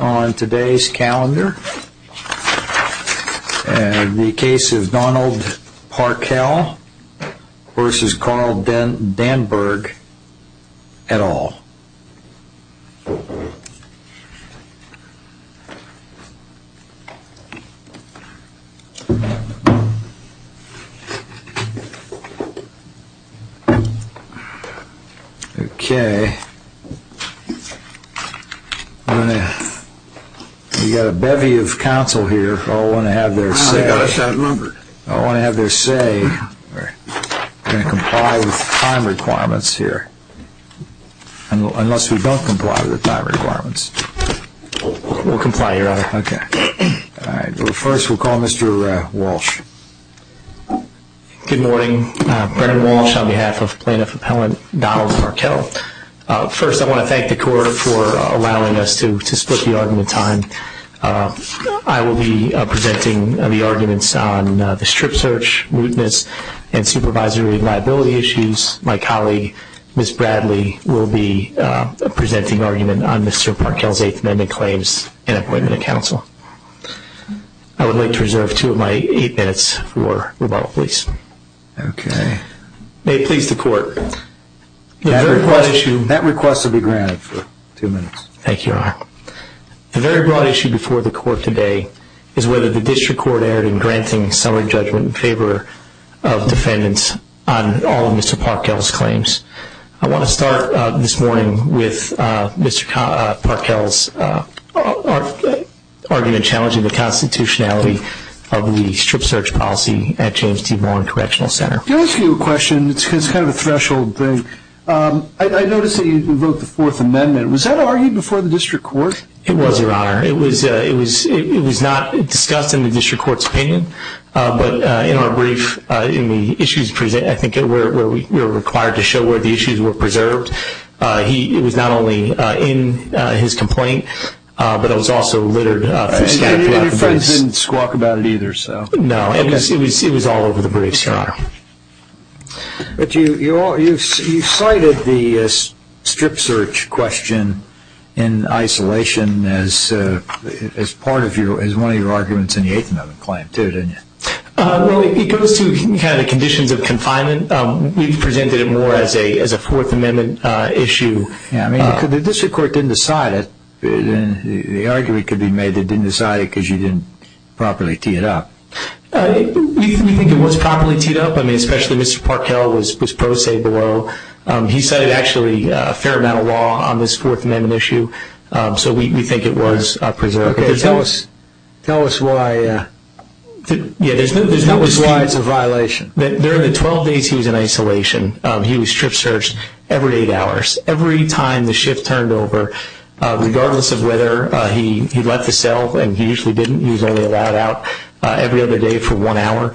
on today's calendar. The case is Donald Parkell v. Carl Danberg et al. Okay. We've got a bevy of counsel here. I want to have their say. I want to have their say. We're going to comply with the time requirements here, unless we don't comply with the time requirements. We'll comply, Your Honor. Okay. First, we'll call Mr. Walsh. Good morning. Brennan Walsh on behalf of Plaintiff Appellant Donald Parkell. First, I want to thank the Court for allowing us to split the argument in time. I will be presenting the arguments on the strip search, ruteness, and supervisory liability issues. My colleague, Ms. Bradley, will be presenting argument on Mr. Parkell's Eighth Amendment claims and appointment of counsel. I would like to reserve two of my eight minutes for rebuttal, please. Okay. May it please the Court. That request will be granted for two minutes. Thank you, Your Honor. Thank you, Mr. Walsh. I want to start this morning with Mr. Parkell's argument challenging the constitutionality of the strip search policy at James T. Vaughan Correctional Center. Can I ask you a question? It's kind of a threshold thing. I noticed that you wrote the Fourth Amendment. Was that argued before the District Court? It was, Your Honor. It was not discussed in the District Court's opinion, but in our brief, in the issues presented, I think, where we were required to show where the issues were preserved, it was not only in his complaint, but it was also littered. And your friend didn't squawk about it either, so. No, it was all over the brief, Your Honor. But you cited the strip search question in isolation as part of your, as one of your arguments in the Eighth Amendment claim, too, didn't you? Well, it goes to kind of the conditions of confinement. We presented it more as a Fourth Amendment issue. Yeah, I mean, the District Court didn't decide it. The argument could be made they didn't decide it because you didn't properly tee it up. We think it was properly teed up. I mean, especially Mr. Parkell was pro se below. He cited actually a fair amount of law on this Fourth Amendment issue, so we think it was preserved. Okay, tell us, tell us why. Yeah, there's no slides of violation. During the 12 days he was in isolation, he was strip searched every eight hours. Every time the shift turned over, regardless of whether he left the cell, and he usually didn't, he was only allowed out every other day for one hour,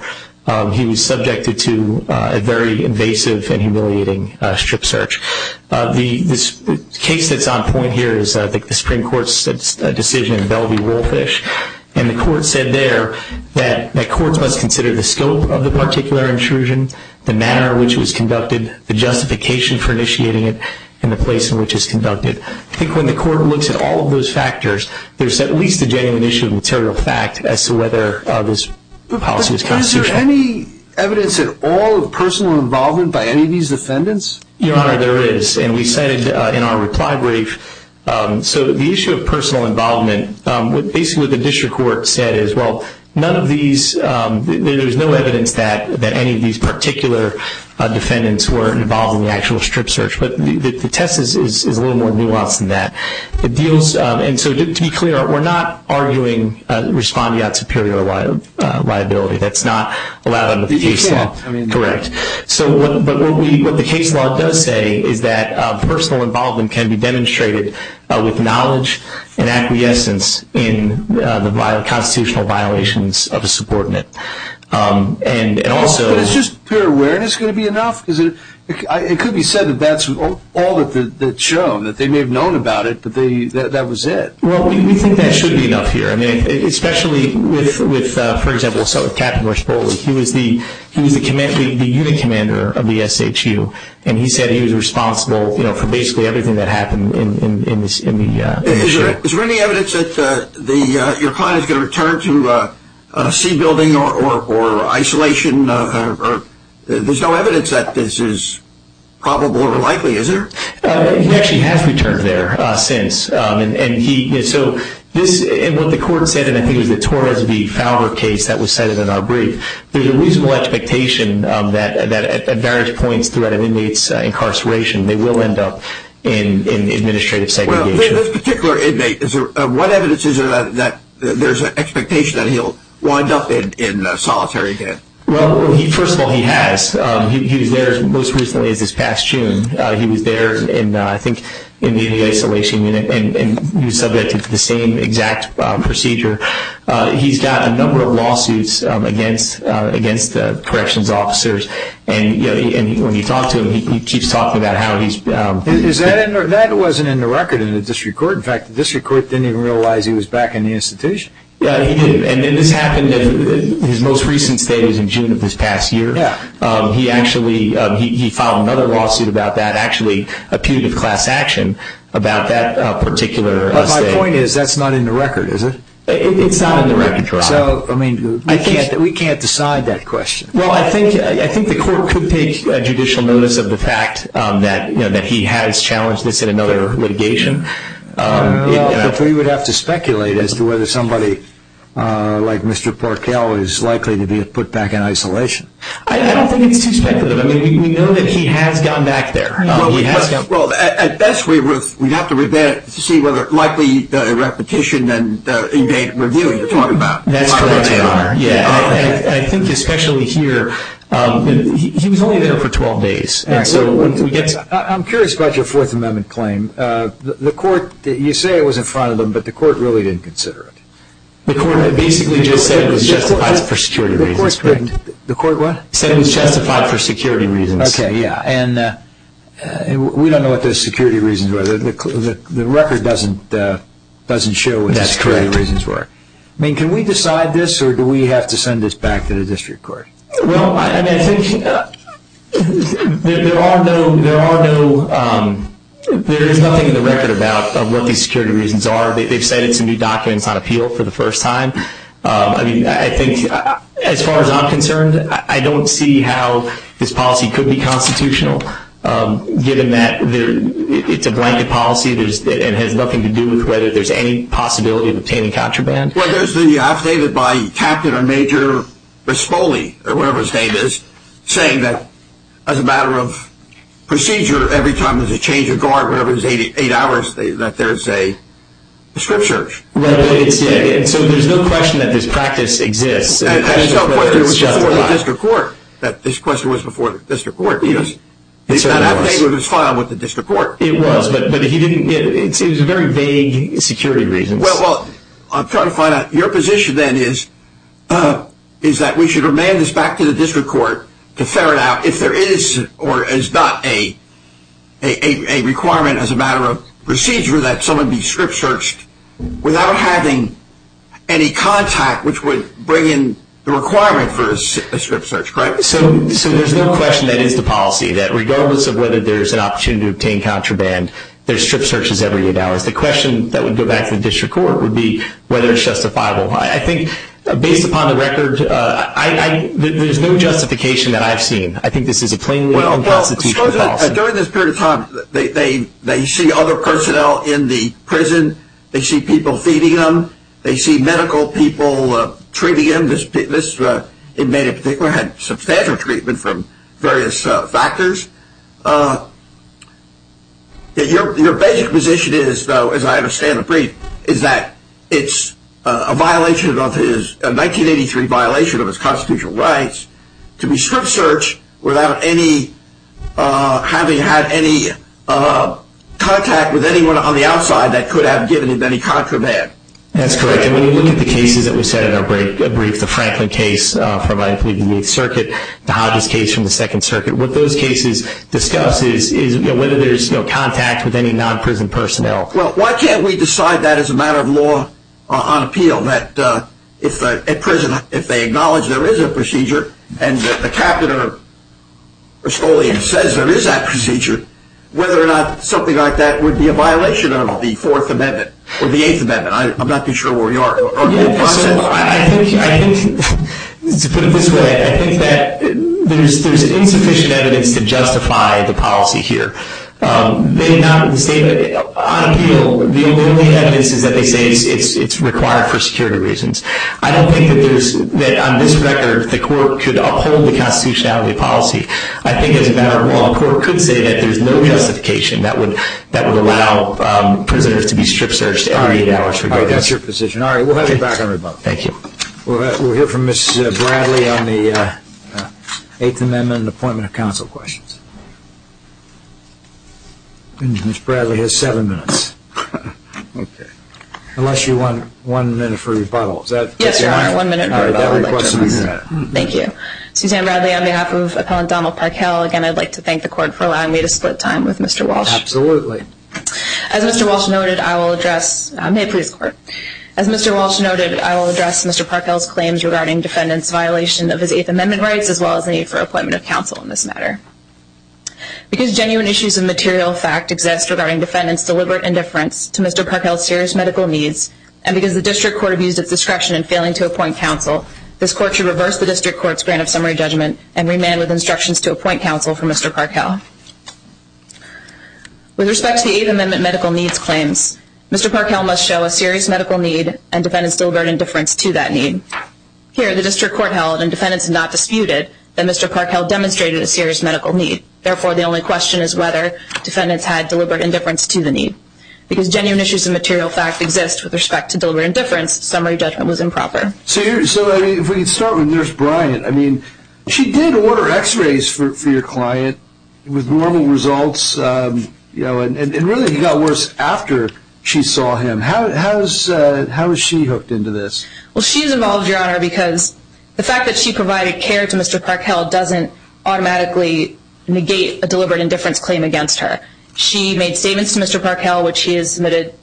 he was subjected to a very invasive and humiliating strip search. The case that's on point here is I think the Supreme Court's decision in Bellevue-Wolfish, and the Court said there that courts must consider the scope of the particular intrusion, the manner in which it was conducted, the justification for initiating it, and the place in which it was conducted. I think when the Court looks at all of those factors, there's at least a genuine issue of material fact as to whether this policy was constitutional. Is there any evidence at all of personal involvement by any of these defendants? Your Honor, there is, and we cited in our reply brief, so the issue of personal involvement, basically what the District Court said is, well, none of these, there's no evidence that any of these particular defendants were involved in the actual strip search, but the test is a little more nuanced than that. It deals, and so to be clear, we're not arguing respondeat superior liability, that's not allowed under the case law. Correct. But what the case law does say is that personal involvement can be demonstrated with knowledge and acquiescence in the constitutional violations of a subordinate. But is just pure awareness going to be enough? Because it could be said that that's all that's shown, that they may have known about it, but that was it. Well, we think that should be enough here. I mean, especially with, for example, Captain Rush Bowles, he was the unit commander of the SHU, and he said he was responsible for basically everything that happened in the issue. Is there any evidence that your building or isolation, there's no evidence that this is probable or likely, is there? He actually has returned there since, and he, so this, and what the court said, and I think it was the Torres v. Fowler case that was cited in our brief, there's a reasonable expectation that at various points throughout an inmate's incarceration, they will end up in administrative segregation. Well, this particular inmate, what evidence is there that there's an expectation that he'll wind up in solitary again? Well, first of all, he has. He was there as most recently as this past June. He was there in, I think, in the isolation unit, and he was subjected to the same exact procedure. He's got a number of lawsuits against the corrections officers, and when you talk to him, he keeps talking about how he's been... Is that in, or that wasn't in the record in the district court? In fact, the district court didn't even realize he was back in the institution. Yeah, he didn't, and then this happened in his most recent state is in June of this past year. Yeah. He actually, he filed another lawsuit about that, actually a punitive class action about that particular state. But my point is, that's not in the record, is it? It's not in the record, Your Honor. So, I mean, we can't decide that question. Well, I think the court could take judicial notice of the fact that he has challenged this in another litigation. But we would have to speculate as to whether somebody like Mr. Porkel is likely to be put back in isolation. I don't think it's too speculative. I mean, we know that he has gone back there. Well, at best, we'd have to see whether, likely, the repetition and in-date review you're talking about. That's correct, Your Honor. Yeah. I think especially here, he was only there for 12 days. I'm curious about your Fourth Amendment claim. The court, you say it was in front of them, but the court really didn't consider it. The court basically just said it was justified for security reasons, correct? The court what? Said it was justified for security reasons. Okay, yeah. And we don't know what those security reasons were. The record doesn't show what those security reasons were. That's correct. I mean, can we decide this, or do we have to send this back to the district court? Well, I think there is nothing in the record about what these security reasons are. They've cited some new documents on appeal for the first time. I mean, I think as far as I'm concerned, I don't see how this policy could be constitutional, given that it's a blanket policy and has nothing to do with whether there's any possibility of obtaining contraband. Well, there's the affidavit by Captain or Major Respoli, or whatever his name is, saying that as a matter of procedure, every time there's a change of guard, whatever it is, eight hours, that there's a prescription. Right. And so there's no question that this practice exists. And there's no question it was before the district court that this question was before the district court. It certainly was. That affidavit was filed with the district court. It was, but he didn't get it. It was very vague security reasons. Well, I'm trying to find out. Your position then is that we should remand this back to the district court to ferret out if there is or is not a requirement as a matter of procedure that someone be strip searched without having any contact, which would bring in the requirement for a strip search, correct? So there's no question that is the policy, that regardless of whether there's an opportunity to obtain contraband, there's strip searches every eight hours. The question that would go back to the district court would be whether it's justifiable. I think, based upon the record, there's no justification that I've seen. I think this is a plainly unconstitutional policy. Well, during this period of time, they see other personnel in the prison. They see people feeding them. They see medical people treating them. This inmate in particular had substantial treatment from various factors. Your basic position is, though, as I understand the brief, is that it's a violation of his 1983 violation of his constitutional rights to be strip searched without having had any contact with anyone on the outside that could have given him any contraband. That's correct, and when we look at the cases that we said in our brief, the Franklin case from, I believe, the 8th Circuit, the Hodges case from the 2nd Circuit, what those cases discuss is whether there's no contact with any non-prison personnel. Well, why can't we decide that as a matter of law on appeal, that at prison, if they acknowledge there is a procedure and that the captain of Estolian says there is that procedure, whether or not something like that would be a violation of the Fourth Amendment or the Eighth Amendment? I'm not too sure where we are. To put it this way, I think that there's insufficient evidence to justify the policy here. On appeal, the only evidence is that they say it's required for security reasons. I don't think that on this record the court could uphold the constitutionality of policy. I think as a matter of law, a court could say that there's no justification that would allow prisoners to be strip searched. All right, that's your position. All right, we'll have you back on rebuttal. Thank you. We'll hear from Ms. Bradley on the Eighth Amendment and appointment of counsel questions. Ms. Bradley has seven minutes, unless you want one minute for rebuttal. Yes, I want one minute for rebuttal. Thank you. Suzanne Bradley on behalf of Appellant Donald Parkell. Again, I'd like to thank the court for allowing me to split time with Mr. Walsh. Absolutely. As Mr. Walsh noted, I will address Mr. Parkell's claims regarding defendant's violation of his Eighth Amendment rights, as well as the need for appointment of counsel in this matter. Because genuine issues of material fact exist regarding defendant's deliberate indifference to Mr. Parkell's serious medical needs, and because the district court abused its discretion in failing to appoint counsel, this court should reverse the district court's grant of summary judgment and remain with instructions to appoint counsel for Mr. Parkell. With respect to the Eighth Amendment medical needs claims, Mr. Parkell must show a serious medical need and defendant's deliberate indifference to that need. Here, the district court held, and defendants not disputed, that Mr. Parkell demonstrated a serious medical need. Therefore, the only question is whether defendants had deliberate indifference to the need. Because genuine issues of material fact exist with respect to deliberate indifference, summary judgment was improper. If we could start with Nurse Bryant. She did order x-rays for your client with normal results, and really he got worse after she saw him. How is she hooked into this? She's involved, Your Honor, because the fact that she provided care to Mr. Parkell doesn't automatically negate a deliberate indifference claim against her. She made statements to Mr. Parkell, which he has submitted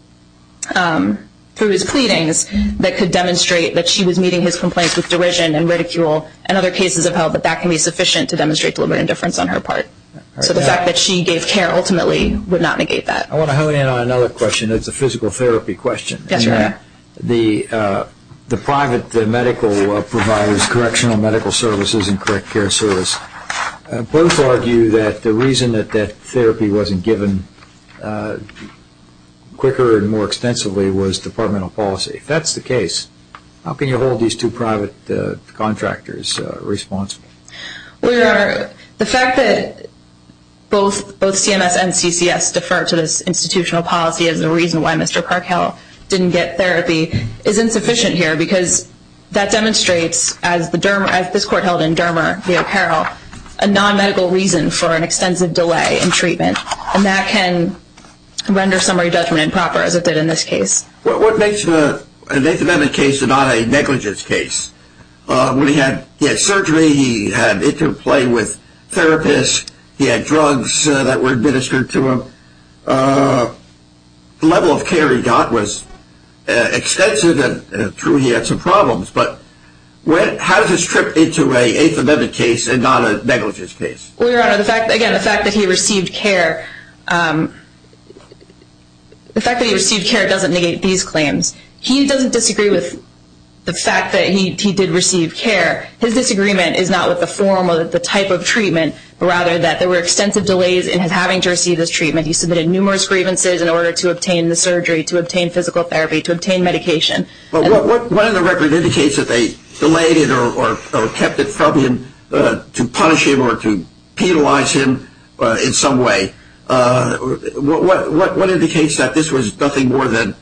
through his pleadings, that could demonstrate that she was meeting his complaints with derision and ridicule and other cases of health, but that can be sufficient to demonstrate deliberate indifference on her part. So the fact that she gave care ultimately would not negate that. I want to hone in on another question. It's a physical therapy question. Yes, Your Honor. The private medical providers, Correctional Medical Services and Correct Care Service, both argue that the reason that that therapy wasn't given quicker and more extensively was departmental policy. If that's the case, how can you hold these two private contractors responsible? Well, Your Honor, the fact that both CMS and CCS defer to this institutional policy as the reason why Mr. Parkell didn't get therapy is insufficient here, because that demonstrates, as this Court held in Dermer v. O'Carroll, a non-medical reason for an extensive delay in treatment, and that can render summary judgment improper, as it did in this case. What makes the Nathan Bennett case not a negligence case? He had surgery, he had interplay with therapists, he had drugs that were administered to him. The level of care he got was extensive and, true, he had some problems, but how does this trip into an Eighth Amendment case and not a negligence case? Well, Your Honor, again, the fact that he received care doesn't negate these claims. He doesn't disagree with the fact that he did receive care. His disagreement is not with the form or the type of treatment, but rather that there were extensive delays in his having to receive this treatment. He submitted numerous grievances in order to obtain the surgery, to obtain physical therapy, to obtain medication. But what in the record indicates that they delayed it or kept it from him to punish him or to penalize him in some way? What indicates that this was nothing more than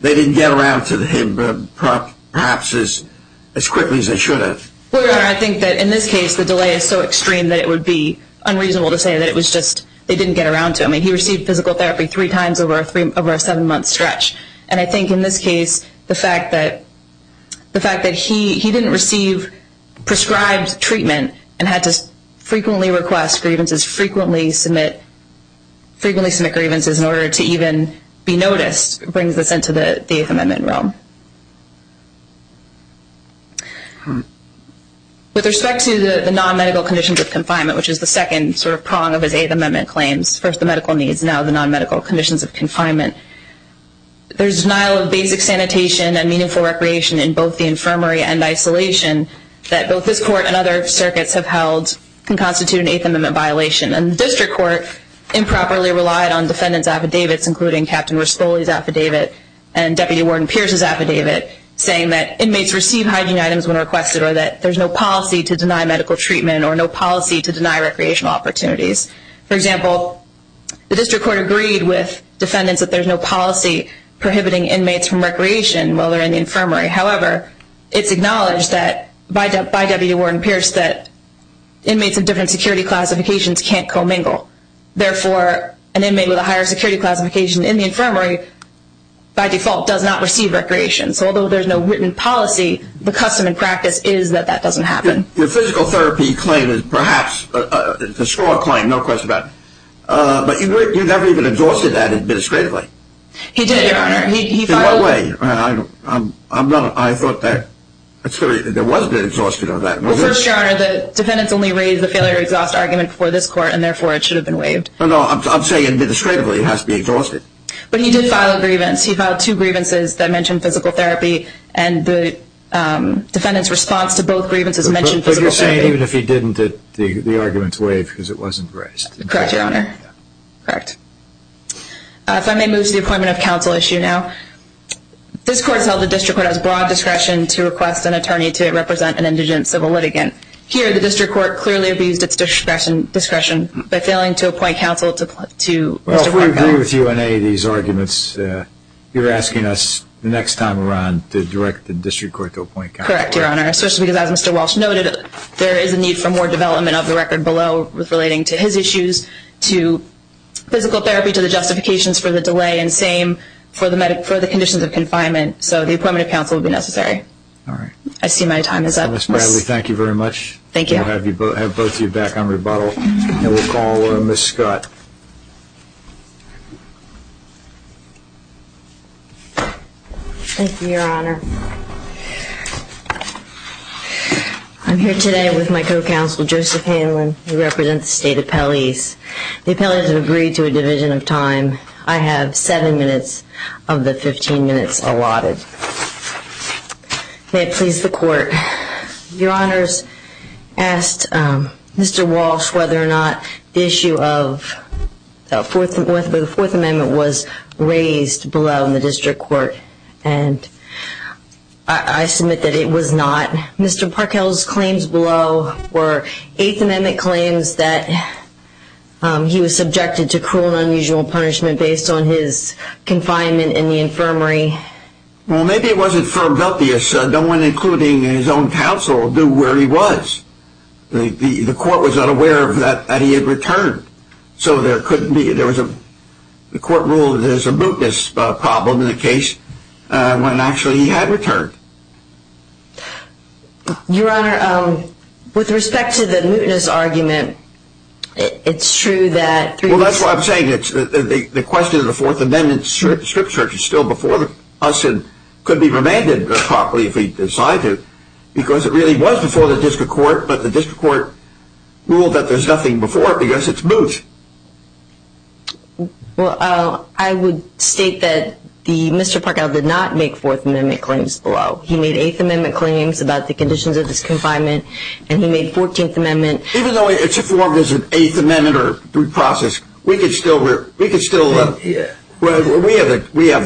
they didn't get around to him perhaps as quickly as they should have? Well, Your Honor, I think that in this case the delay is so extreme that it would be unreasonable to say that it was just they didn't get around to him. He received physical therapy three times over a seven-month stretch. And I think in this case the fact that he didn't receive prescribed treatment and had to frequently request grievances, frequently submit grievances in order to even be noticed, brings this into the Eighth Amendment realm. With respect to the non-medical conditions of confinement, which is the second sort of prong of his Eighth Amendment claims, first the medical needs, now the non-medical conditions of confinement, there's denial of basic sanitation and meaningful recreation in both the infirmary and isolation that both this Court and other circuits have held can constitute an Eighth Amendment violation. And the District Court improperly relied on defendants' affidavits, including Captain Raspoli's affidavit and Deputy Warden Pierce's affidavit, saying that inmates receive hygiene items when requested or that there's no policy to deny medical treatment or no policy to deny recreational opportunities. For example, the District Court agreed with defendants that there's no policy prohibiting inmates from recreation while they're in the infirmary. However, it's acknowledged by Deputy Warden Pierce that inmates of different security classifications can't commingle. Therefore, an inmate with a higher security classification in the infirmary by default does not receive recreation. So although there's no written policy, the custom and practice is that that doesn't happen. Your physical therapy claim is perhaps a straw claim, no question about it. But you never even exhausted that administratively. He did, Your Honor. In what way? I thought that there was a bit exhausted of that. Well, first, Your Honor, the defendants only raised the failure-to-exhaust argument before this Court, and therefore it should have been waived. No, no, I'm saying administratively it has to be exhausted. But he did file a grievance. He filed two grievances that mentioned physical therapy, and the defendants' response to both grievances mentioned physical therapy. But you're saying even if he didn't, the argument's waived because it wasn't raised. Correct, Your Honor. Correct. If I may move to the appointment of counsel issue now. This Court has held the District Court has broad discretion to request an attorney to represent an indigent civil litigant. Here, the District Court clearly abused its discretion by failing to appoint counsel to Mr. Parker. Well, if we agree with you in any of these arguments, you're asking us the next time around to direct the District Court to appoint counsel. Correct, Your Honor, especially because, as Mr. Walsh noted, there is a need for more development of the record below relating to his issues, to physical therapy, to the justifications for the delay, and same for the conditions of confinement. So the appointment of counsel would be necessary. All right. I see my time is up. Ms. Bradley, thank you very much. Thank you. We'll have both of you back on rebuttal. And we'll call Ms. Scott. Thank you, Your Honor. I'm here today with my co-counsel, Joseph Hanlon, who represents the state appellees. The appellees have agreed to a division of time. I have seven minutes of the 15 minutes allotted. May it please the Court. Your Honors, I asked Mr. Walsh whether or not the issue of the Fourth Amendment was raised below in the District Court, and I submit that it was not. Mr. Parkell's claims below were Eighth Amendment claims that he was subjected to cruel and unusual punishment based on his confinement in the infirmary. Well, maybe it wasn't for Veltius. No one, including his own counsel, knew where he was. The Court was unaware that he had returned. So there couldn't be, there was a, the Court ruled that there was a mootness problem in the case when actually he had returned. Your Honor, with respect to the mootness argument, it's true that through this Well, I'm saying it's, the question of the Fourth Amendment strip search is still before us and could be remanded properly if we decide to, because it really was before the District Court, but the District Court ruled that there's nothing before it because it's moot. Well, I would state that Mr. Parkell did not make Fourth Amendment claims below. He made Eighth Amendment claims about the conditions of his confinement, and he made Fourteenth Amendment. Even though it's a Fourth or Eighth Amendment process, we could still, we have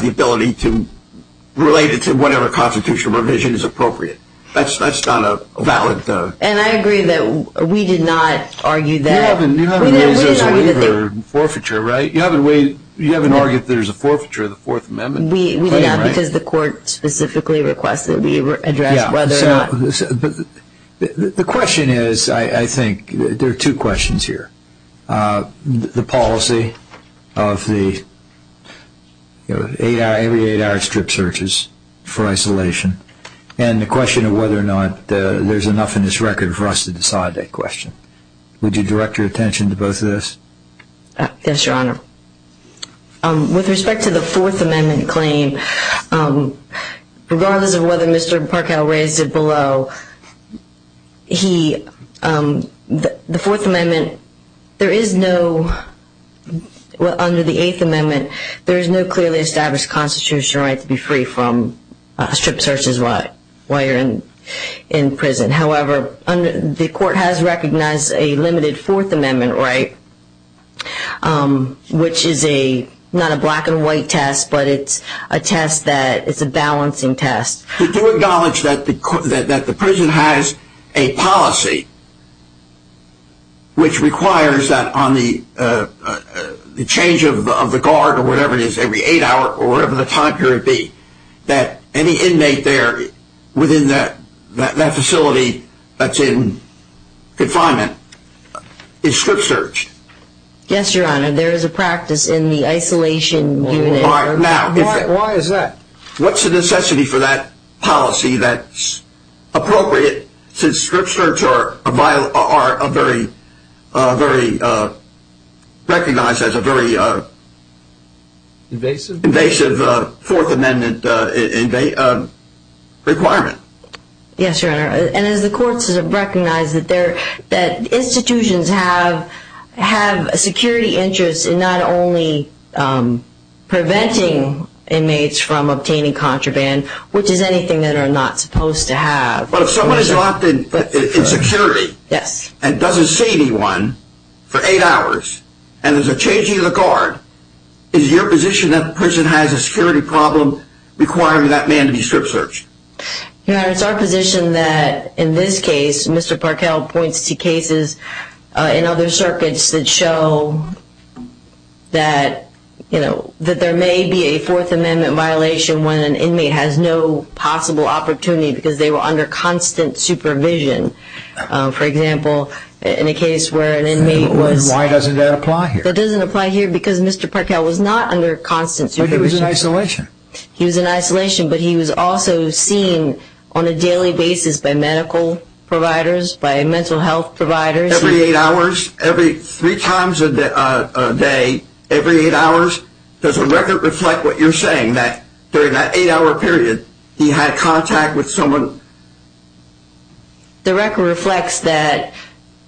the ability to relate it to whatever constitutional revision is appropriate. That's not a valid And I agree that we did not argue that You haven't raised this waiver forfeiture, right? You haven't argued that there's a forfeiture of the Fourth Amendment claim, right? We did not, because the Court specifically requested we address whether or not The question is, I think, there are two questions here. The policy of the every eight-hour strip searches for isolation, and the question of whether or not there's enough in this record for us to decide that question. Would you direct your attention to both of those? Yes, Your Honor. With respect to the Fourth Amendment claim, regardless of whether Mr. Parkell raised it below, he, the Fourth Amendment, there is no, under the Eighth Amendment, there is no clearly established constitutional right to be free from strip searches while you're in prison. However, the Court has recognized a limited Fourth Amendment right, which is a, not a black and white test, but it's a test that, it's a balancing test. To acknowledge that the prison has a policy, which requires that on the change of the guard, or whatever it is, every eight hours, or whatever the time period be, that any inmate there within that facility that's in confinement is strip searched. Yes, Your Honor. There is a practice in the isolation unit. Why is that? What's the necessity for that policy that's appropriate to strip search which are a very, very, recognized as a very invasive Fourth Amendment requirement? Yes, Your Honor. And as the Court has recognized that institutions have a security interest in not only preventing inmates from obtaining contraband, which is anything that are not supposed to have. But if someone is locked in security, and doesn't see anyone for eight hours, and there's a change in the guard, is your position that the prison has a security problem requiring that man to be strip searched? Your Honor, it's our position that in this case, Mr. Parkell points to cases in other circuits that show that, you know, that there may be a Fourth Amendment violation when an inmate has no possible opportunity because they were under constant supervision. For example, in a case where an inmate was... Why doesn't that apply here? That doesn't apply here because Mr. Parkell was not under constant supervision. But he was in isolation. He was in isolation, but he was also seen on a daily basis by medical providers, by mental health providers. Every eight hours? Three times a day, every eight hours? Does the record reflect what you're saying, that during that eight-hour period, he had contact with someone? The record reflects that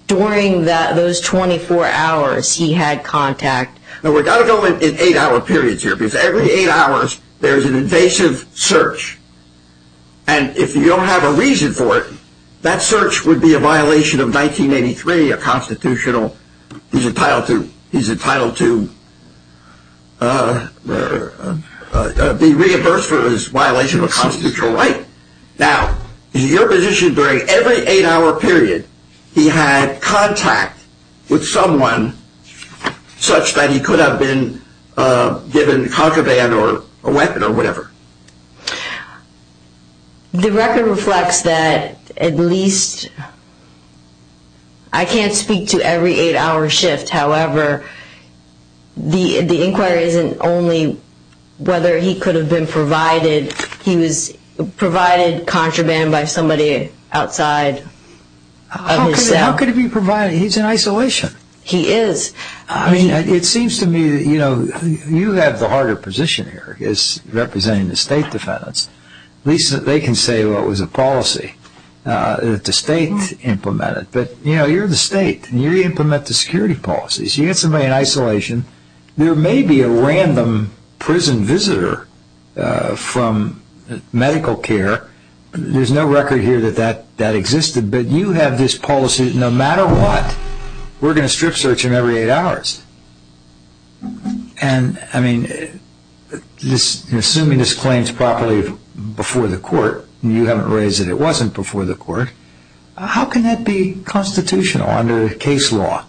during those 24 hours, he had contact. Now, we've got to go in eight-hour periods here because every eight hours, there's an invasive search. And if you don't have a reason for it, that search would be a violation of 1983, a constitutional... He's entitled to be reimbursed for his violation of a constitutional right. Now, in your position, during every eight-hour period, he had contact with someone such that he could have been given concubine or a weapon or whatever? The record reflects that at least... I can't speak to every eight-hour shift. However, the inquiry isn't only whether he could have been provided. He was provided contraband by somebody outside of his cell. How could he be provided? He's in isolation. He is. It seems to me that you have the harder position here as representing the state defendants. At least they can say, well, it was a policy that the state implemented. But you're the state. You implement the security policies. You get somebody in isolation. There may be a random prison visitor from medical care. There's no record here that that existed. But you have this policy that no matter what, we're going to strip search him every eight hours. And, I mean, assuming this claim is properly before the court, and you haven't raised that it wasn't before the court, how can that be constitutional under case law?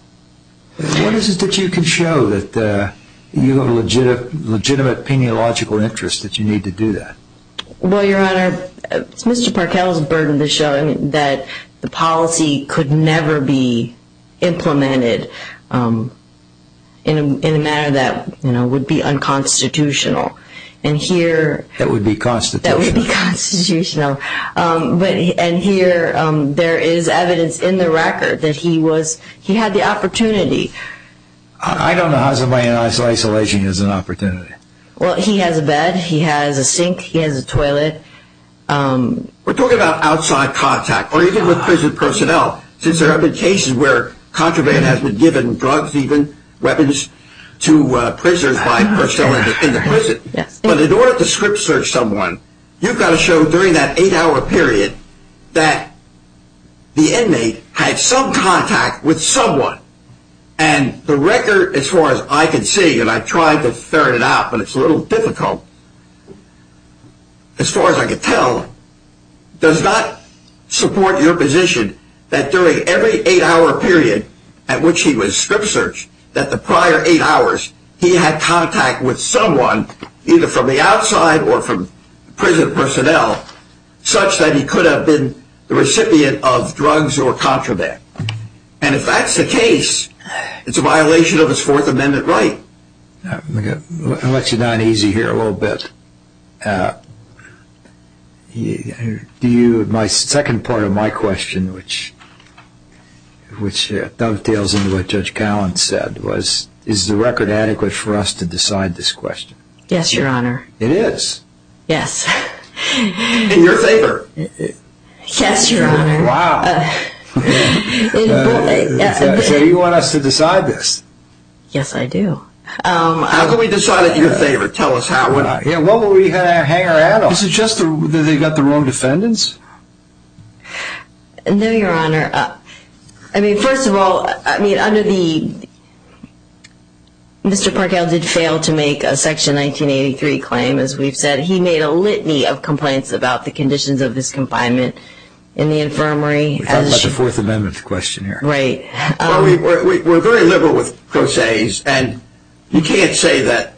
What is it that you can show that you have a legitimate peniological interest that you need to do that? Well, Your Honor, it's Mr. Parkell's burden to show that the policy could never be implemented in a manner that would be unconstitutional. That would be constitutional. That would be constitutional. And here there is evidence in the record that he had the opportunity. I don't know how somebody in isolation has an opportunity. Well, he has a bed. He has a sink. He has a toilet. We're talking about outside contact, or even with prison personnel, since there have been cases where contraband has been given, drugs even, weapons to prisoners in the prison. But in order to strip search someone, you've got to show during that eight-hour period that the inmate had some contact with someone. And the record, as far as I can see, and I tried to ferret it out, but it's a little difficult, as far as I can tell, does not support your position that during every eight-hour period at which he was strip searched, that the prior eight hours he had contact with someone, either from the outside or from prison personnel, such that he could have been the recipient of drugs or contraband. And if that's the case, it's a violation of his Fourth Amendment right. I'll let you down easy here a little bit. My second part of my question, which dovetails into what Judge Callan said, was is the record adequate for us to decide this question? Yes, Your Honor. It is? Yes. In your favor? Yes, Your Honor. Wow. So you want us to decide this? Yes, I do. How can we decide it in your favor? Tell us how. What will we hang our head on? Is it just that they got the wrong defendants? No, Your Honor. I mean, first of all, I mean, under the... Mr. Parkow did fail to make a Section 1983 claim, as we've said. He made a litany of complaints about the conditions of his confinement in the infirmary. We're talking about the Fourth Amendment question here. Right. Well, we're very liberal with procés, and you can't say that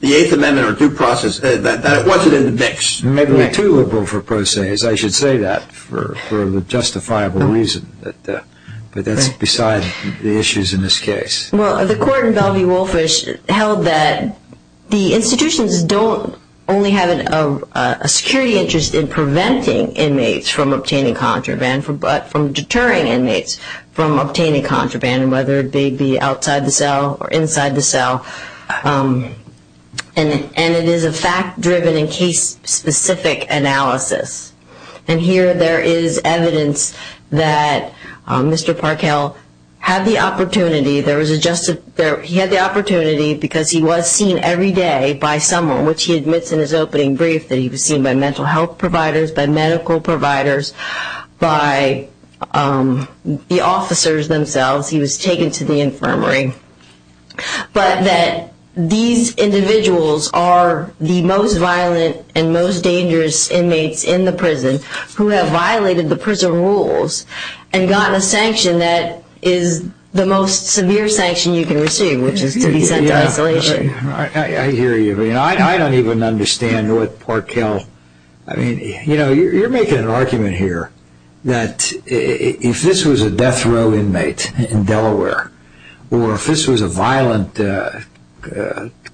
the Eighth Amendment or due process, that it wasn't in the mix. Maybe we're too liberal for procés. I should say that for a justifiable reason, but that's beside the issues in this case. Well, the court in Bellevue-Wolfish held that the institutions don't only have a security interest in preventing inmates from obtaining contraband, but from deterring inmates from obtaining contraband, whether it be outside the cell or inside the cell. And it is a fact-driven and case-specific analysis. And here there is evidence that Mr. Parkow had the opportunity. He had the opportunity because he was seen every day by someone, which he admits in his opening brief that he was seen by mental health providers, by medical providers, by the officers themselves. He was taken to the infirmary. But that these individuals are the most violent and most dangerous inmates in the prison who have violated the prison rules and gotten a sanction that is the most severe sanction you can receive, which is to be sent to isolation. I hear you. I don't even understand what Parkow... You're making an argument here that if this was a death row inmate in Delaware or if this was a violent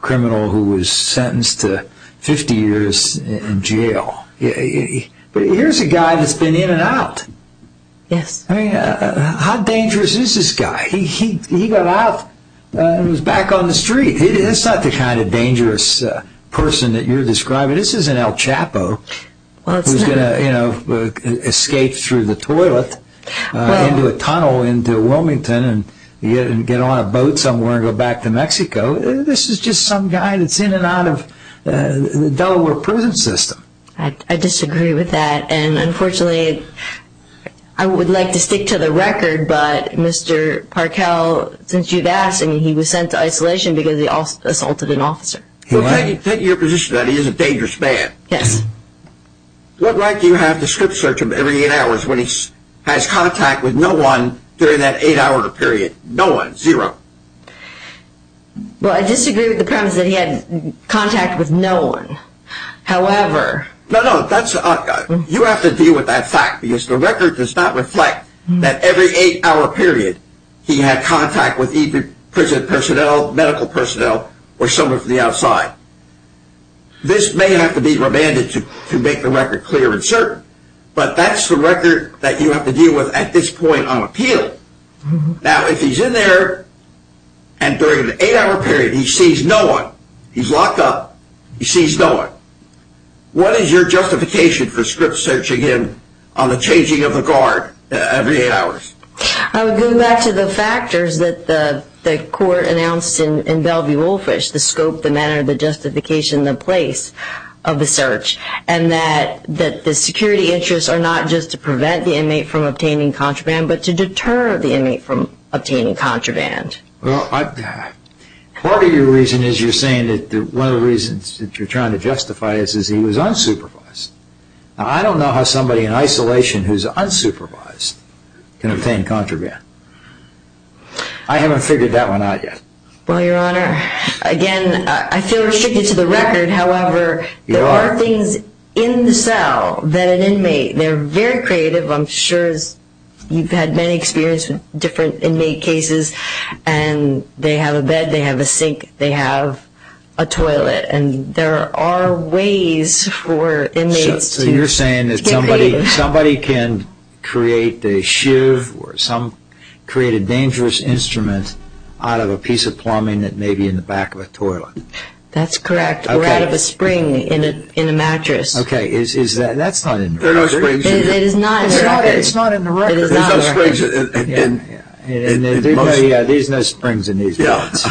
criminal who was sentenced to 50 years in jail, but here's a guy that's been in and out. Yes. How dangerous is this guy? He got out and was back on the street. He's not the kind of dangerous person that you're describing. This isn't El Chapo who's going to escape through the toilet into a tunnel into Wilmington and get on a boat somewhere and go back to Mexico. This is just some guy that's in and out of the Delaware prison system. I disagree with that. Unfortunately, I would like to stick to the record, but Mr. Parkow, since you've asked, he was sent to isolation because he assaulted an officer. Take your position that he is a dangerous man. Yes. What right do you have to script search him every eight hours when he has contact with no one during that eight-hour period? No one, zero. Well, I disagree with the premise that he had contact with no one. However... No, no. You have to deal with that fact because the record does not reflect that every eight-hour period he had contact with either prison personnel, medical personnel, or someone from the outside. This may have to be remanded to make the record clear and certain, but that's the record that you have to deal with at this point on appeal. Now, if he's in there and during the eight-hour period he sees no one, he's locked up, he sees no one, what is your justification for script searching him on the changing of the guard every eight hours? I would go back to the factors that the court announced in Bellevue-Olefish, the scope, the manner, the justification, the place of the search, and that the security interests are not just to prevent the inmate from obtaining contraband but to deter the inmate from obtaining contraband. Well, part of your reason is you're saying that one of the reasons that you're trying to justify this is he was unsupervised. Now, I don't know how somebody in isolation who's unsupervised can obtain contraband. I haven't figured that one out yet. Well, Your Honor, again, I feel restricted to the record. However, there are things in the cell that an inmate... I've had many experiences with different inmate cases, and they have a bed, they have a sink, they have a toilet, and there are ways for inmates to obtain... So you're saying that somebody can create a shiv or create a dangerous instrument out of a piece of plumbing that may be in the back of a toilet. That's correct, or out of a spring in a mattress. Okay, that's not in the record. It is not in the record. There's no springs in these beds.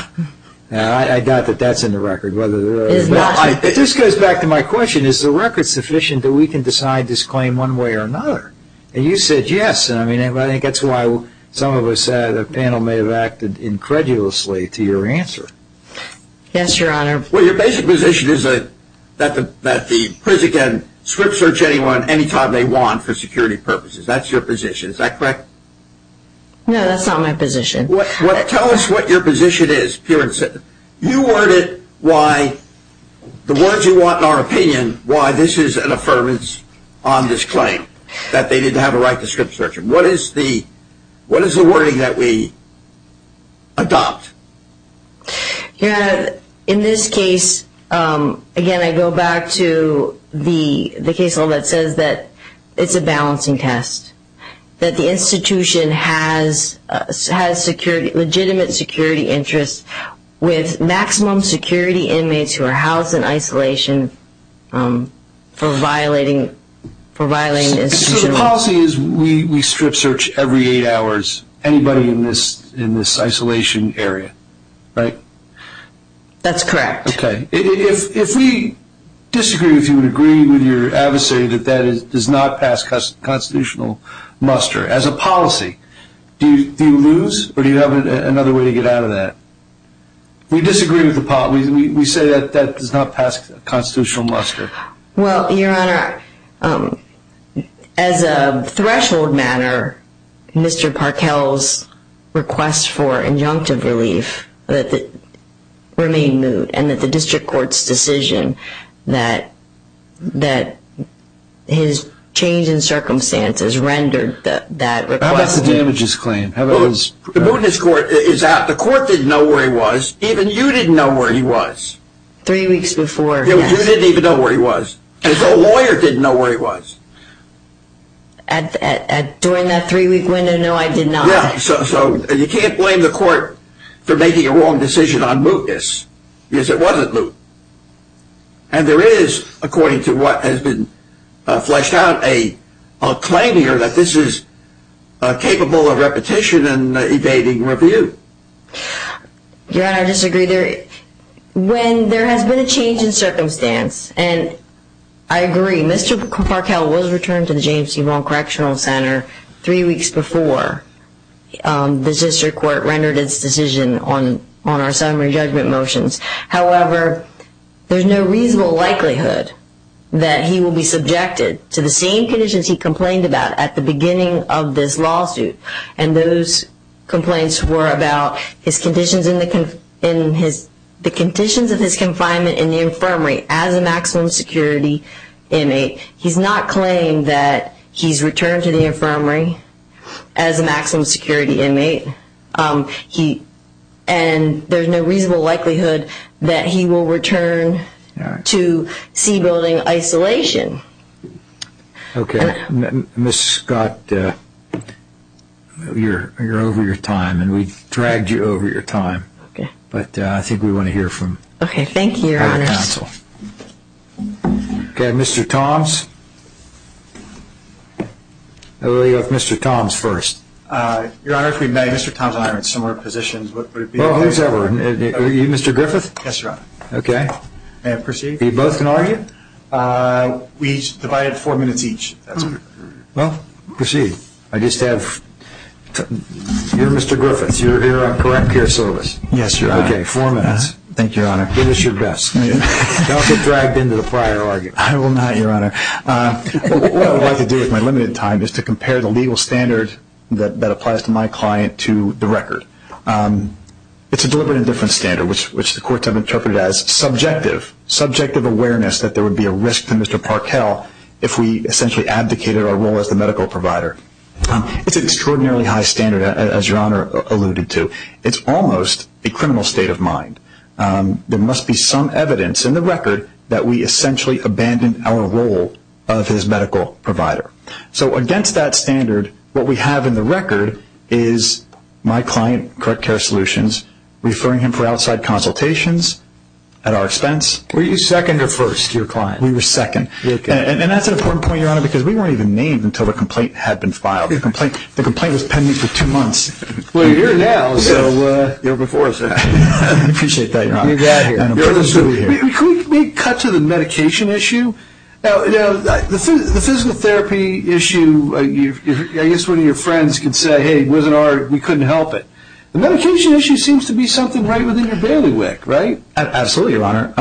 I doubt that that's in the record. This goes back to my question. Is the record sufficient that we can decide this claim one way or another? And you said yes, and I think that's why some of us at the panel may have acted incredulously to your answer. Yes, Your Honor. Well, your basic position is that the prison can script search anyone any time they want for security purposes. That's your position. Is that correct? No, that's not my position. Tell us what your position is, Pearson. You worded why the words you want in our opinion, why this is an affirmance on this claim, that they didn't have a right to script search. What is the wording that we adopt? Your Honor, in this case, again, I go back to the case law that says that it's a balancing test, that the institution has legitimate security interests with maximum security inmates who are housed in isolation for violating the institution's rules. So the policy is we script search every eight hours anybody in this isolation area, right? That's correct. Okay. If we disagree with you and agree with your adversary that that does not pass constitutional muster as a policy, do you lose or do you have another way to get out of that? We disagree with the policy. We say that that does not pass constitutional muster. Well, Your Honor, as a threshold matter, Mr. Parkell's request for injunctive relief remained moot and that the district court's decision that his change in circumstances rendered that request moot. How about the damages claim? The moot in this court is that the court didn't know where he was. Even you didn't know where he was. Three weeks before, yes. You didn't even know where he was. The lawyer didn't know where he was. During that three-week window, no, I did not. Yeah, so you can't blame the court for making a wrong decision on mootness because it wasn't moot. And there is, according to what has been fleshed out, a claim here that this is capable of repetition and evading review. Your Honor, I disagree. When there has been a change in circumstance, and I agree, Mr. Parkell was returned to the James C. Vaughan Correctional Center three weeks before the district court rendered its decision on our summary judgment motions. However, there's no reasonable likelihood that he will be subjected to the same conditions he complained about at the beginning of this lawsuit, and those complaints were about the conditions of his confinement in the infirmary as a maximum security inmate. He's not claimed that he's returned to the infirmary as a maximum security inmate, and there's no reasonable likelihood that he will return to C building isolation. Okay. Ms. Scott, you're over your time, and we've dragged you over your time. Okay. But I think we want to hear from you. Okay. Thank you, Your Honor. Counsel. Okay. Mr. Toms? We'll go with Mr. Toms first. Your Honor, if we may, Mr. Toms and I are in similar positions. What would it be? Well, who's ever? Are you Mr. Griffith? Yes, Your Honor. Okay. May I proceed? You both can argue? We divided four minutes each. Well, proceed. I just have to—you're Mr. Griffith. You're here on correct care service. Yes, Your Honor. Okay, four minutes. Thank you, Your Honor. Give us your best. Don't get dragged into the prior argument. I will not, Your Honor. What I would like to do with my limited time is to compare the legal standard that applies to my client to the record. It's a deliberate indifference standard, which the courts have interpreted as subjective, subjective awareness that there would be a risk to Mr. Parkell if we essentially abdicated our role as the medical provider. It's an extraordinarily high standard, as Your Honor alluded to. It's almost a criminal state of mind. There must be some evidence in the record that we essentially abandoned our role of his medical provider. So against that standard, what we have in the record is my client, correct care solutions, referring him for outside consultations at our expense. Were you second or first, your client? We were second. And that's an important point, Your Honor, because we weren't even named until the complaint had been filed. The complaint was pending for two months. Well, you're here now, so you're before us now. I appreciate that, Your Honor. You're absolutely here. Can we cut to the medication issue? The physical therapy issue, I guess one of your friends could say, hey, it wasn't our, we couldn't help it. The medication issue seems to be something right within your bailiwick, right? Absolutely, Your Honor.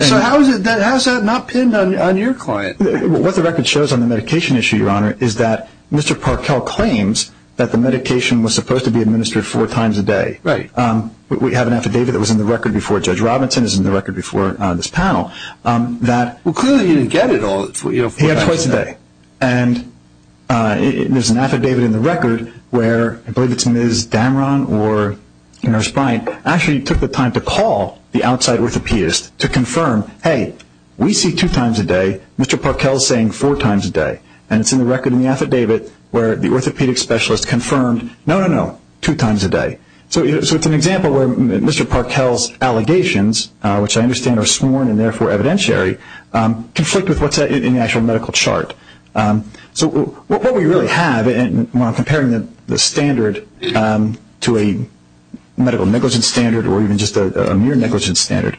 So how is it that has that not pinned on your client? What the record shows on the medication issue, Your Honor, is that Mr. Parkell claims that the medication was supposed to be administered four times a day. We have an affidavit that was in the record before Judge Robinson, it was in the record before this panel that he had twice a day. And there's an affidavit in the record where I believe it's Ms. Damron or Nurse Bryant, actually took the time to call the outside orthopedist to confirm, hey, we see two times a day, Mr. Parkell is saying four times a day. And it's in the record in the affidavit where the orthopedic specialist confirmed, no, no, no, two times a day. So it's an example where Mr. Parkell's allegations, which I understand are sworn and therefore evidentiary, conflict with what's in the actual medical chart. So what we really have, and when I'm comparing the standard to a medical negligence standard or even just a mere negligence standard,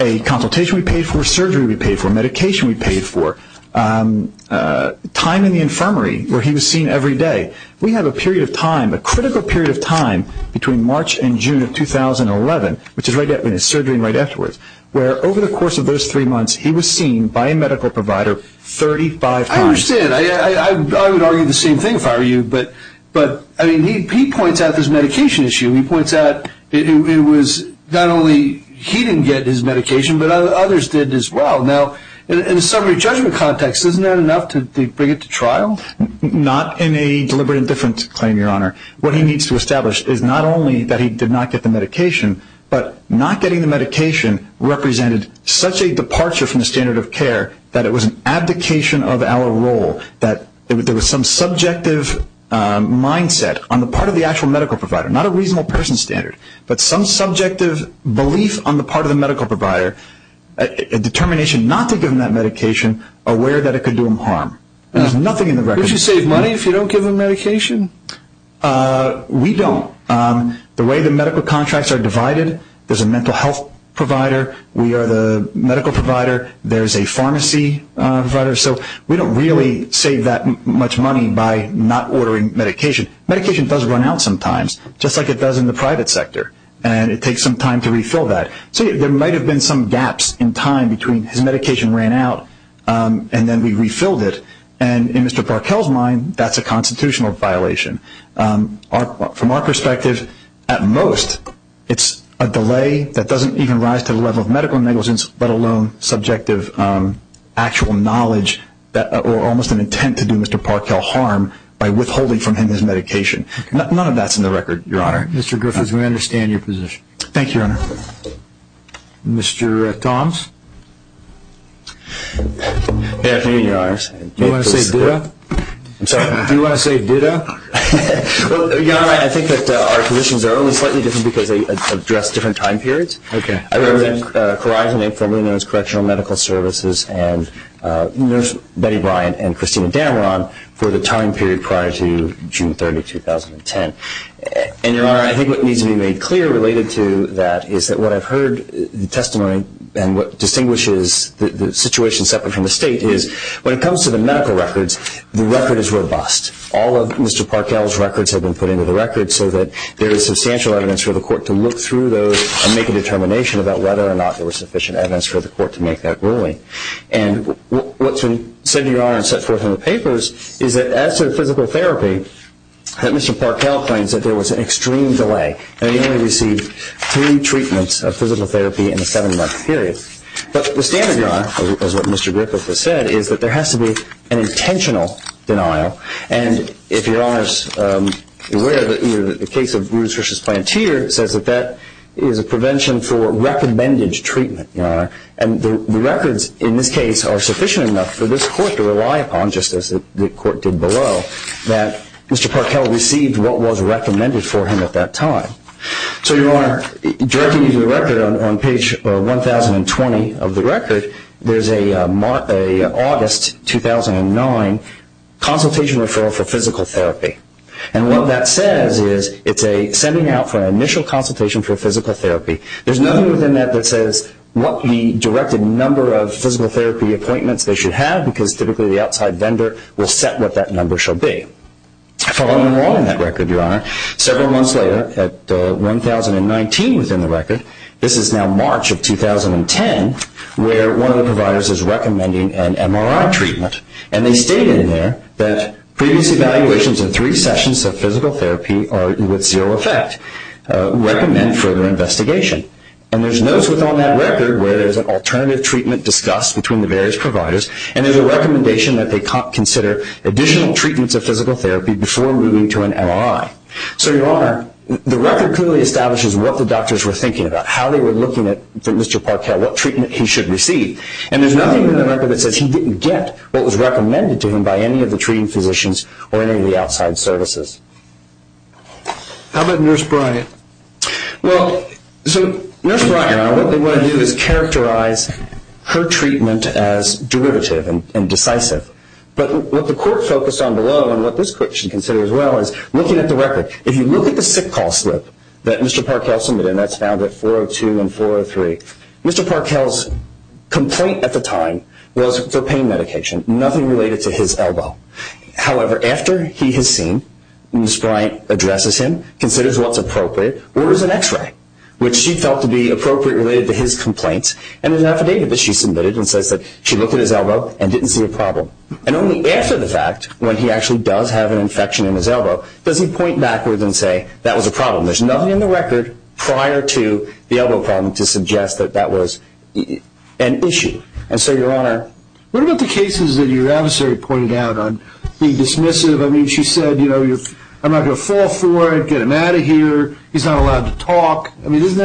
a consultation we paid for, surgery we paid for, medication we paid for, time in the infirmary where he was seen every day, we have a period of time, a critical period of time between March and June of 2011, which is right after his surgery and right afterwards, where over the course of those three months he was seen by a medical provider 35 times. I understand. I would argue the same thing if I were you. But, I mean, he points out this medication issue. He points out it was not only he didn't get his medication, but others did as well. Now, in a summary judgment context, isn't that enough to bring it to trial? Not in a deliberate and different claim, Your Honor. What he needs to establish is not only that he did not get the medication, but not getting the medication represented such a departure from the standard of care that it was an abdication of our role, that there was some subjective mindset on the part of the actual medical provider, not a reasonable person standard, but some subjective belief on the part of the medical provider, a determination not to give him that medication, aware that it could do him harm. There's nothing in the record. Don't you save money if you don't give him medication? We don't. The way the medical contracts are divided, there's a mental health provider, we are the medical provider, there's a pharmacy provider. So we don't really save that much money by not ordering medication. Medication does run out sometimes, just like it does in the private sector, and it takes some time to refill that. So there might have been some gaps in time between his medication ran out and then we refilled it, and in Mr. Barkel's mind, that's a constitutional violation. From our perspective, at most, it's a delay that doesn't even rise to the level of medical negligence, let alone subjective actual knowledge or almost an intent to do Mr. Barkel harm by withholding from him his medication. None of that's in the record, Your Honor. Mr. Griffiths, we understand your position. Thank you, Your Honor. Mr. Toms? Good afternoon, Your Honor. Do you want to say ditto? I'm sorry, do you want to say ditto? Well, Your Honor, I think that our positions are only slightly different because they address different time periods. I wrote in Cori's name, formerly known as Correctional Medical Services, and there's Betty Bryant and Christina Dameron for the time period prior to June 30, 2010. And, Your Honor, I think what needs to be made clear related to that is that what I've heard, the testimony and what distinguishes the situation separate from the state is when it comes to the medical records, the record is robust. All of Mr. Barkel's records have been put into the record so that there is substantial evidence for the court to look through those and make a determination about whether or not there was sufficient evidence for the court to make that ruling. And what's been said, Your Honor, and set forth in the papers is that as to physical therapy, that Mr. Barkel claims that there was an extreme delay and that he only received three treatments of physical therapy in a seven-month period. But the standard, Your Honor, as what Mr. Griffith has said, is that there has to be an intentional denial. And if Your Honor is aware, the case of Brutus v. Plantier says that that is a prevention for recommended treatment, Your Honor. And the records in this case are sufficient enough for this court to rely upon, just as the court did below, that Mr. Barkel received what was recommended for him at that time. So, Your Honor, directing you to the record, on page 1,020 of the record, there's an August 2009 consultation referral for physical therapy. And what that says is it's a sending out for an initial consultation for physical therapy. There's nothing within that that says what the directed number of physical therapy appointments they should have because typically the outside vendor will set what that number should be. Following along in that record, Your Honor, several months later, at 1,019 within the record, this is now March of 2010 where one of the providers is recommending an MRI treatment. And they state in there that previous evaluations in three sessions of physical therapy are with zero effect. Recommend further investigation. And there's notes within that record where there's an alternative treatment discussed between the various providers and there's a recommendation that they consider additional treatments of physical therapy before moving to an MRI. So, Your Honor, the record clearly establishes what the doctors were thinking about, how they were looking at Mr. Barkel, what treatment he should receive. And there's nothing in the record that says he didn't get what was recommended to him by any of the treating physicians or any of the outside services. How about Nurse Bryant? Well, so Nurse Bryant, Your Honor, what they want to do is characterize her treatment as derivative and decisive. But what the court focused on below and what this court should consider as well is looking at the record. If you look at the sick call slip that Mr. Barkel submitted, and that's found at 402 and 403, Mr. Barkel's complaint at the time was for pain medication, nothing related to his elbow. However, after he has seen, Nurse Bryant addresses him, considers what's appropriate, orders an X-ray, which she felt to be appropriate related to his complaint. And there's an affidavit that she submitted and says that she looked at his elbow and didn't see a problem. And only after the fact, when he actually does have an infection in his elbow, does he point backwards and say that was a problem. There's nothing in the record prior to the elbow problem to suggest that that was an issue. And so, Your Honor, what about the cases that your adversary pointed out on being dismissive? I mean, she said, you know, I'm not going to fall for it, get him out of here, he's not allowed to talk. I mean, doesn't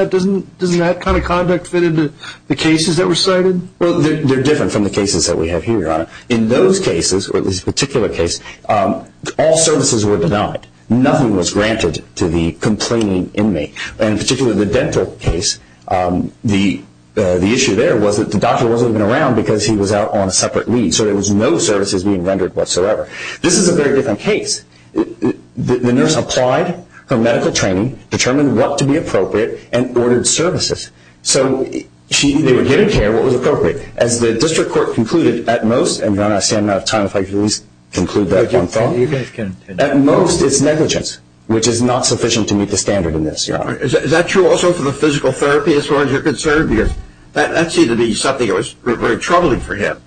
that kind of conduct fit into the cases that were cited? Well, they're different from the cases that we have here, Your Honor. In those cases, or this particular case, all services were denied. Nothing was granted to the complaining inmate. In particular, the dental case, the issue there was that the doctor wasn't even around because he was out on a separate leave, so there was no services being rendered whatsoever. This is a very different case. The nurse applied her medical training, determined what to be appropriate, and ordered services. So they were given care, what was appropriate. As the district court concluded, at most, and Your Honor, I'm standing out of time, if I could at least conclude that one thought. At most, it's negligence, which is not sufficient to meet the standard in this, Your Honor. Is that true also for the physical therapy, as far as you're concerned? Because that seemed to be something that was very troubling for him.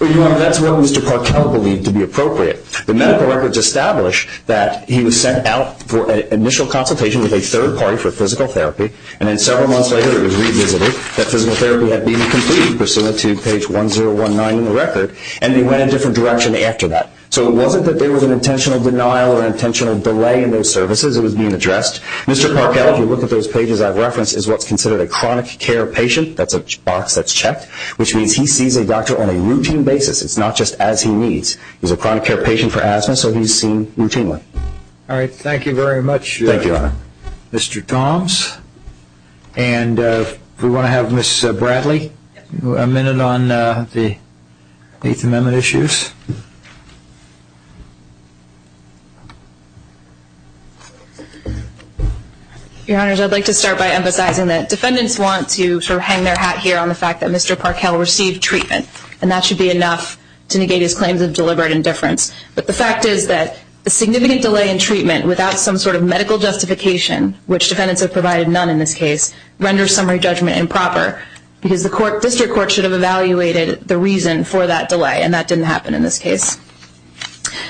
Well, Your Honor, that's what Mr. Parkell believed to be appropriate. The medical records establish that he was sent out for an initial consultation with a third party for physical therapy, and then several months later it was revisited that physical therapy had been completed, page 1019 in the record, and he went in a different direction after that. So it wasn't that there was an intentional denial or intentional delay in those services. It was being addressed. Mr. Parkell, if you look at those pages I've referenced, is what's considered a chronic care patient. That's a box that's checked, which means he sees a doctor on a routine basis. It's not just as he needs. He's a chronic care patient for asthma, so he's seen routinely. All right, thank you very much, Mr. Toms. And we want to have Ms. Bradley a minute on the Eighth Amendment issues. Your Honors, I'd like to start by emphasizing that defendants want to hang their hat here on the fact that Mr. Parkell received treatment, and that should be enough to negate his claims of deliberate indifference. But the fact is that a significant delay in treatment without some sort of medical justification, which defendants have provided none in this case, renders summary judgment improper, because the district court should have evaluated the reason for that delay, and that didn't happen in this case.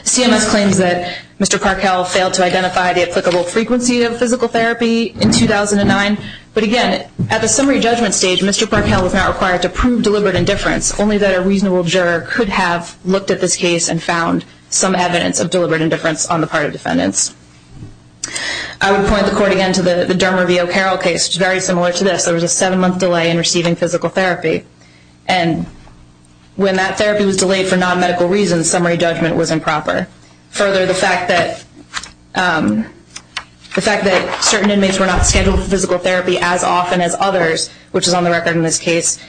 CMS claims that Mr. Parkell failed to identify the applicable frequency of physical therapy in 2009, but again, at the summary judgment stage, Mr. Parkell was not required to prove deliberate indifference, only that a reasonable juror could have looked at this case and found some evidence of deliberate indifference on the part of defendants. I would point the court again to the Dermer v. O'Carroll case, which is very similar to this. There was a seven-month delay in receiving physical therapy, and when that therapy was delayed for non-medical reasons, summary judgment was improper. Further, the fact that certain inmates were not scheduled for physical therapy as often as others, which is on the record in this case,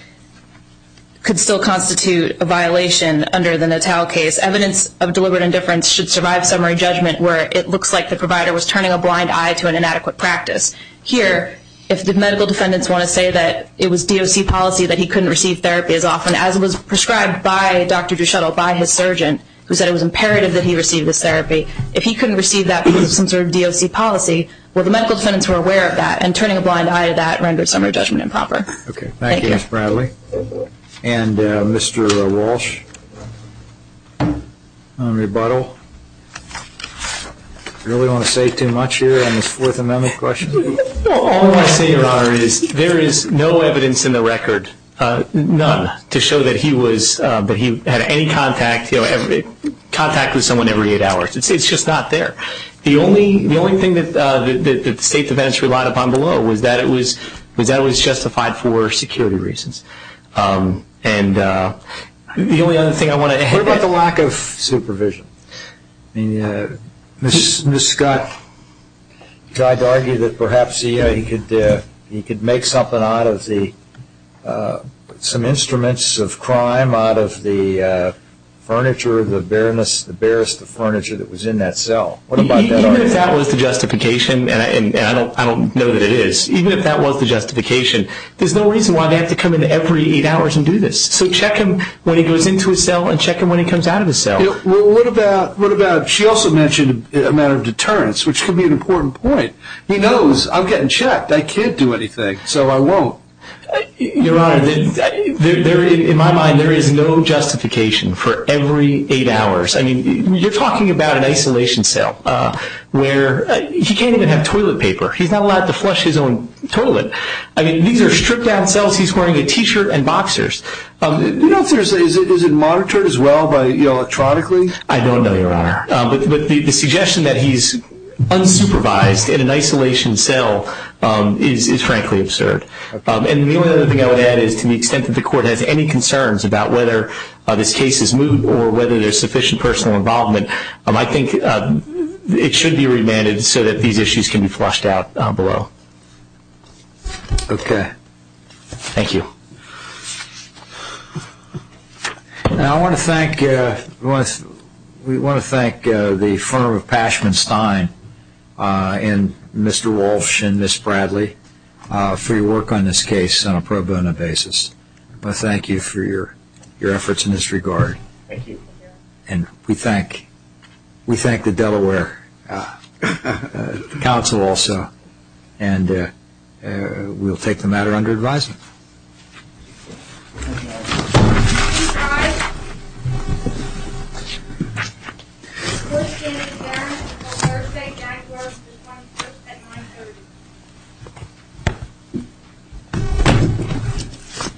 could still constitute a violation under the Natale case. In this case, evidence of deliberate indifference should survive summary judgment where it looks like the provider was turning a blind eye to an inadequate practice. Here, if the medical defendants want to say that it was DOC policy that he couldn't receive therapy as often as it was prescribed by Dr. Duchettle, by his surgeon, who said it was imperative that he receive this therapy, if he couldn't receive that because of some sort of DOC policy, well, the medical defendants were aware of that, and turning a blind eye to that renders summary judgment improper. Thank you, Ms. Bradley. And Mr. Walsh, on rebuttal. Do you really want to say too much here on this Fourth Amendment question? All I'm saying, Your Honor, is there is no evidence in the record, none, to show that he was, that he had any contact with someone every eight hours. It's just not there. The only thing that the State Defendants relied upon below was that it was justified for security reasons. And the only other thing I want to add. What about the lack of supervision? I mean, Ms. Scott tried to argue that perhaps he could make something out of the, some instruments of crime out of the furniture, the barest of furniture that was in that cell. Even if that was the justification, and I don't know that it is, even if that was the justification, there's no reason why they have to come in every eight hours and do this. So check him when he goes into his cell, and check him when he comes out of his cell. What about, she also mentioned a matter of deterrence, which could be an important point. He knows, I'm getting checked, I can't do anything, so I won't. Your Honor, in my mind, there is no justification for every eight hours. I mean, you're talking about an isolation cell where he can't even have toilet paper. He's not allowed to flush his own toilet. I mean, these are stripped-down cells. He's wearing a T-shirt and boxers. Do you know if there's, is it monitored as well electronically? I don't know, Your Honor. But the suggestion that he's unsupervised in an isolation cell is frankly absurd. And the only other thing I would add is to the extent that the Court has any concerns about whether this case is moved or whether there's sufficient personal involvement, I think it should be remanded so that these issues can be flushed out below. Okay. Thank you. Now I want to thank, we want to thank the firm of Pashman-Stein and Mr. Walsh and Ms. Bradley for your work on this case on a pro bono basis. I want to thank you for your efforts in this regard. Thank you. And we thank, we thank the Delaware Council also. And we'll take the matter under advisement.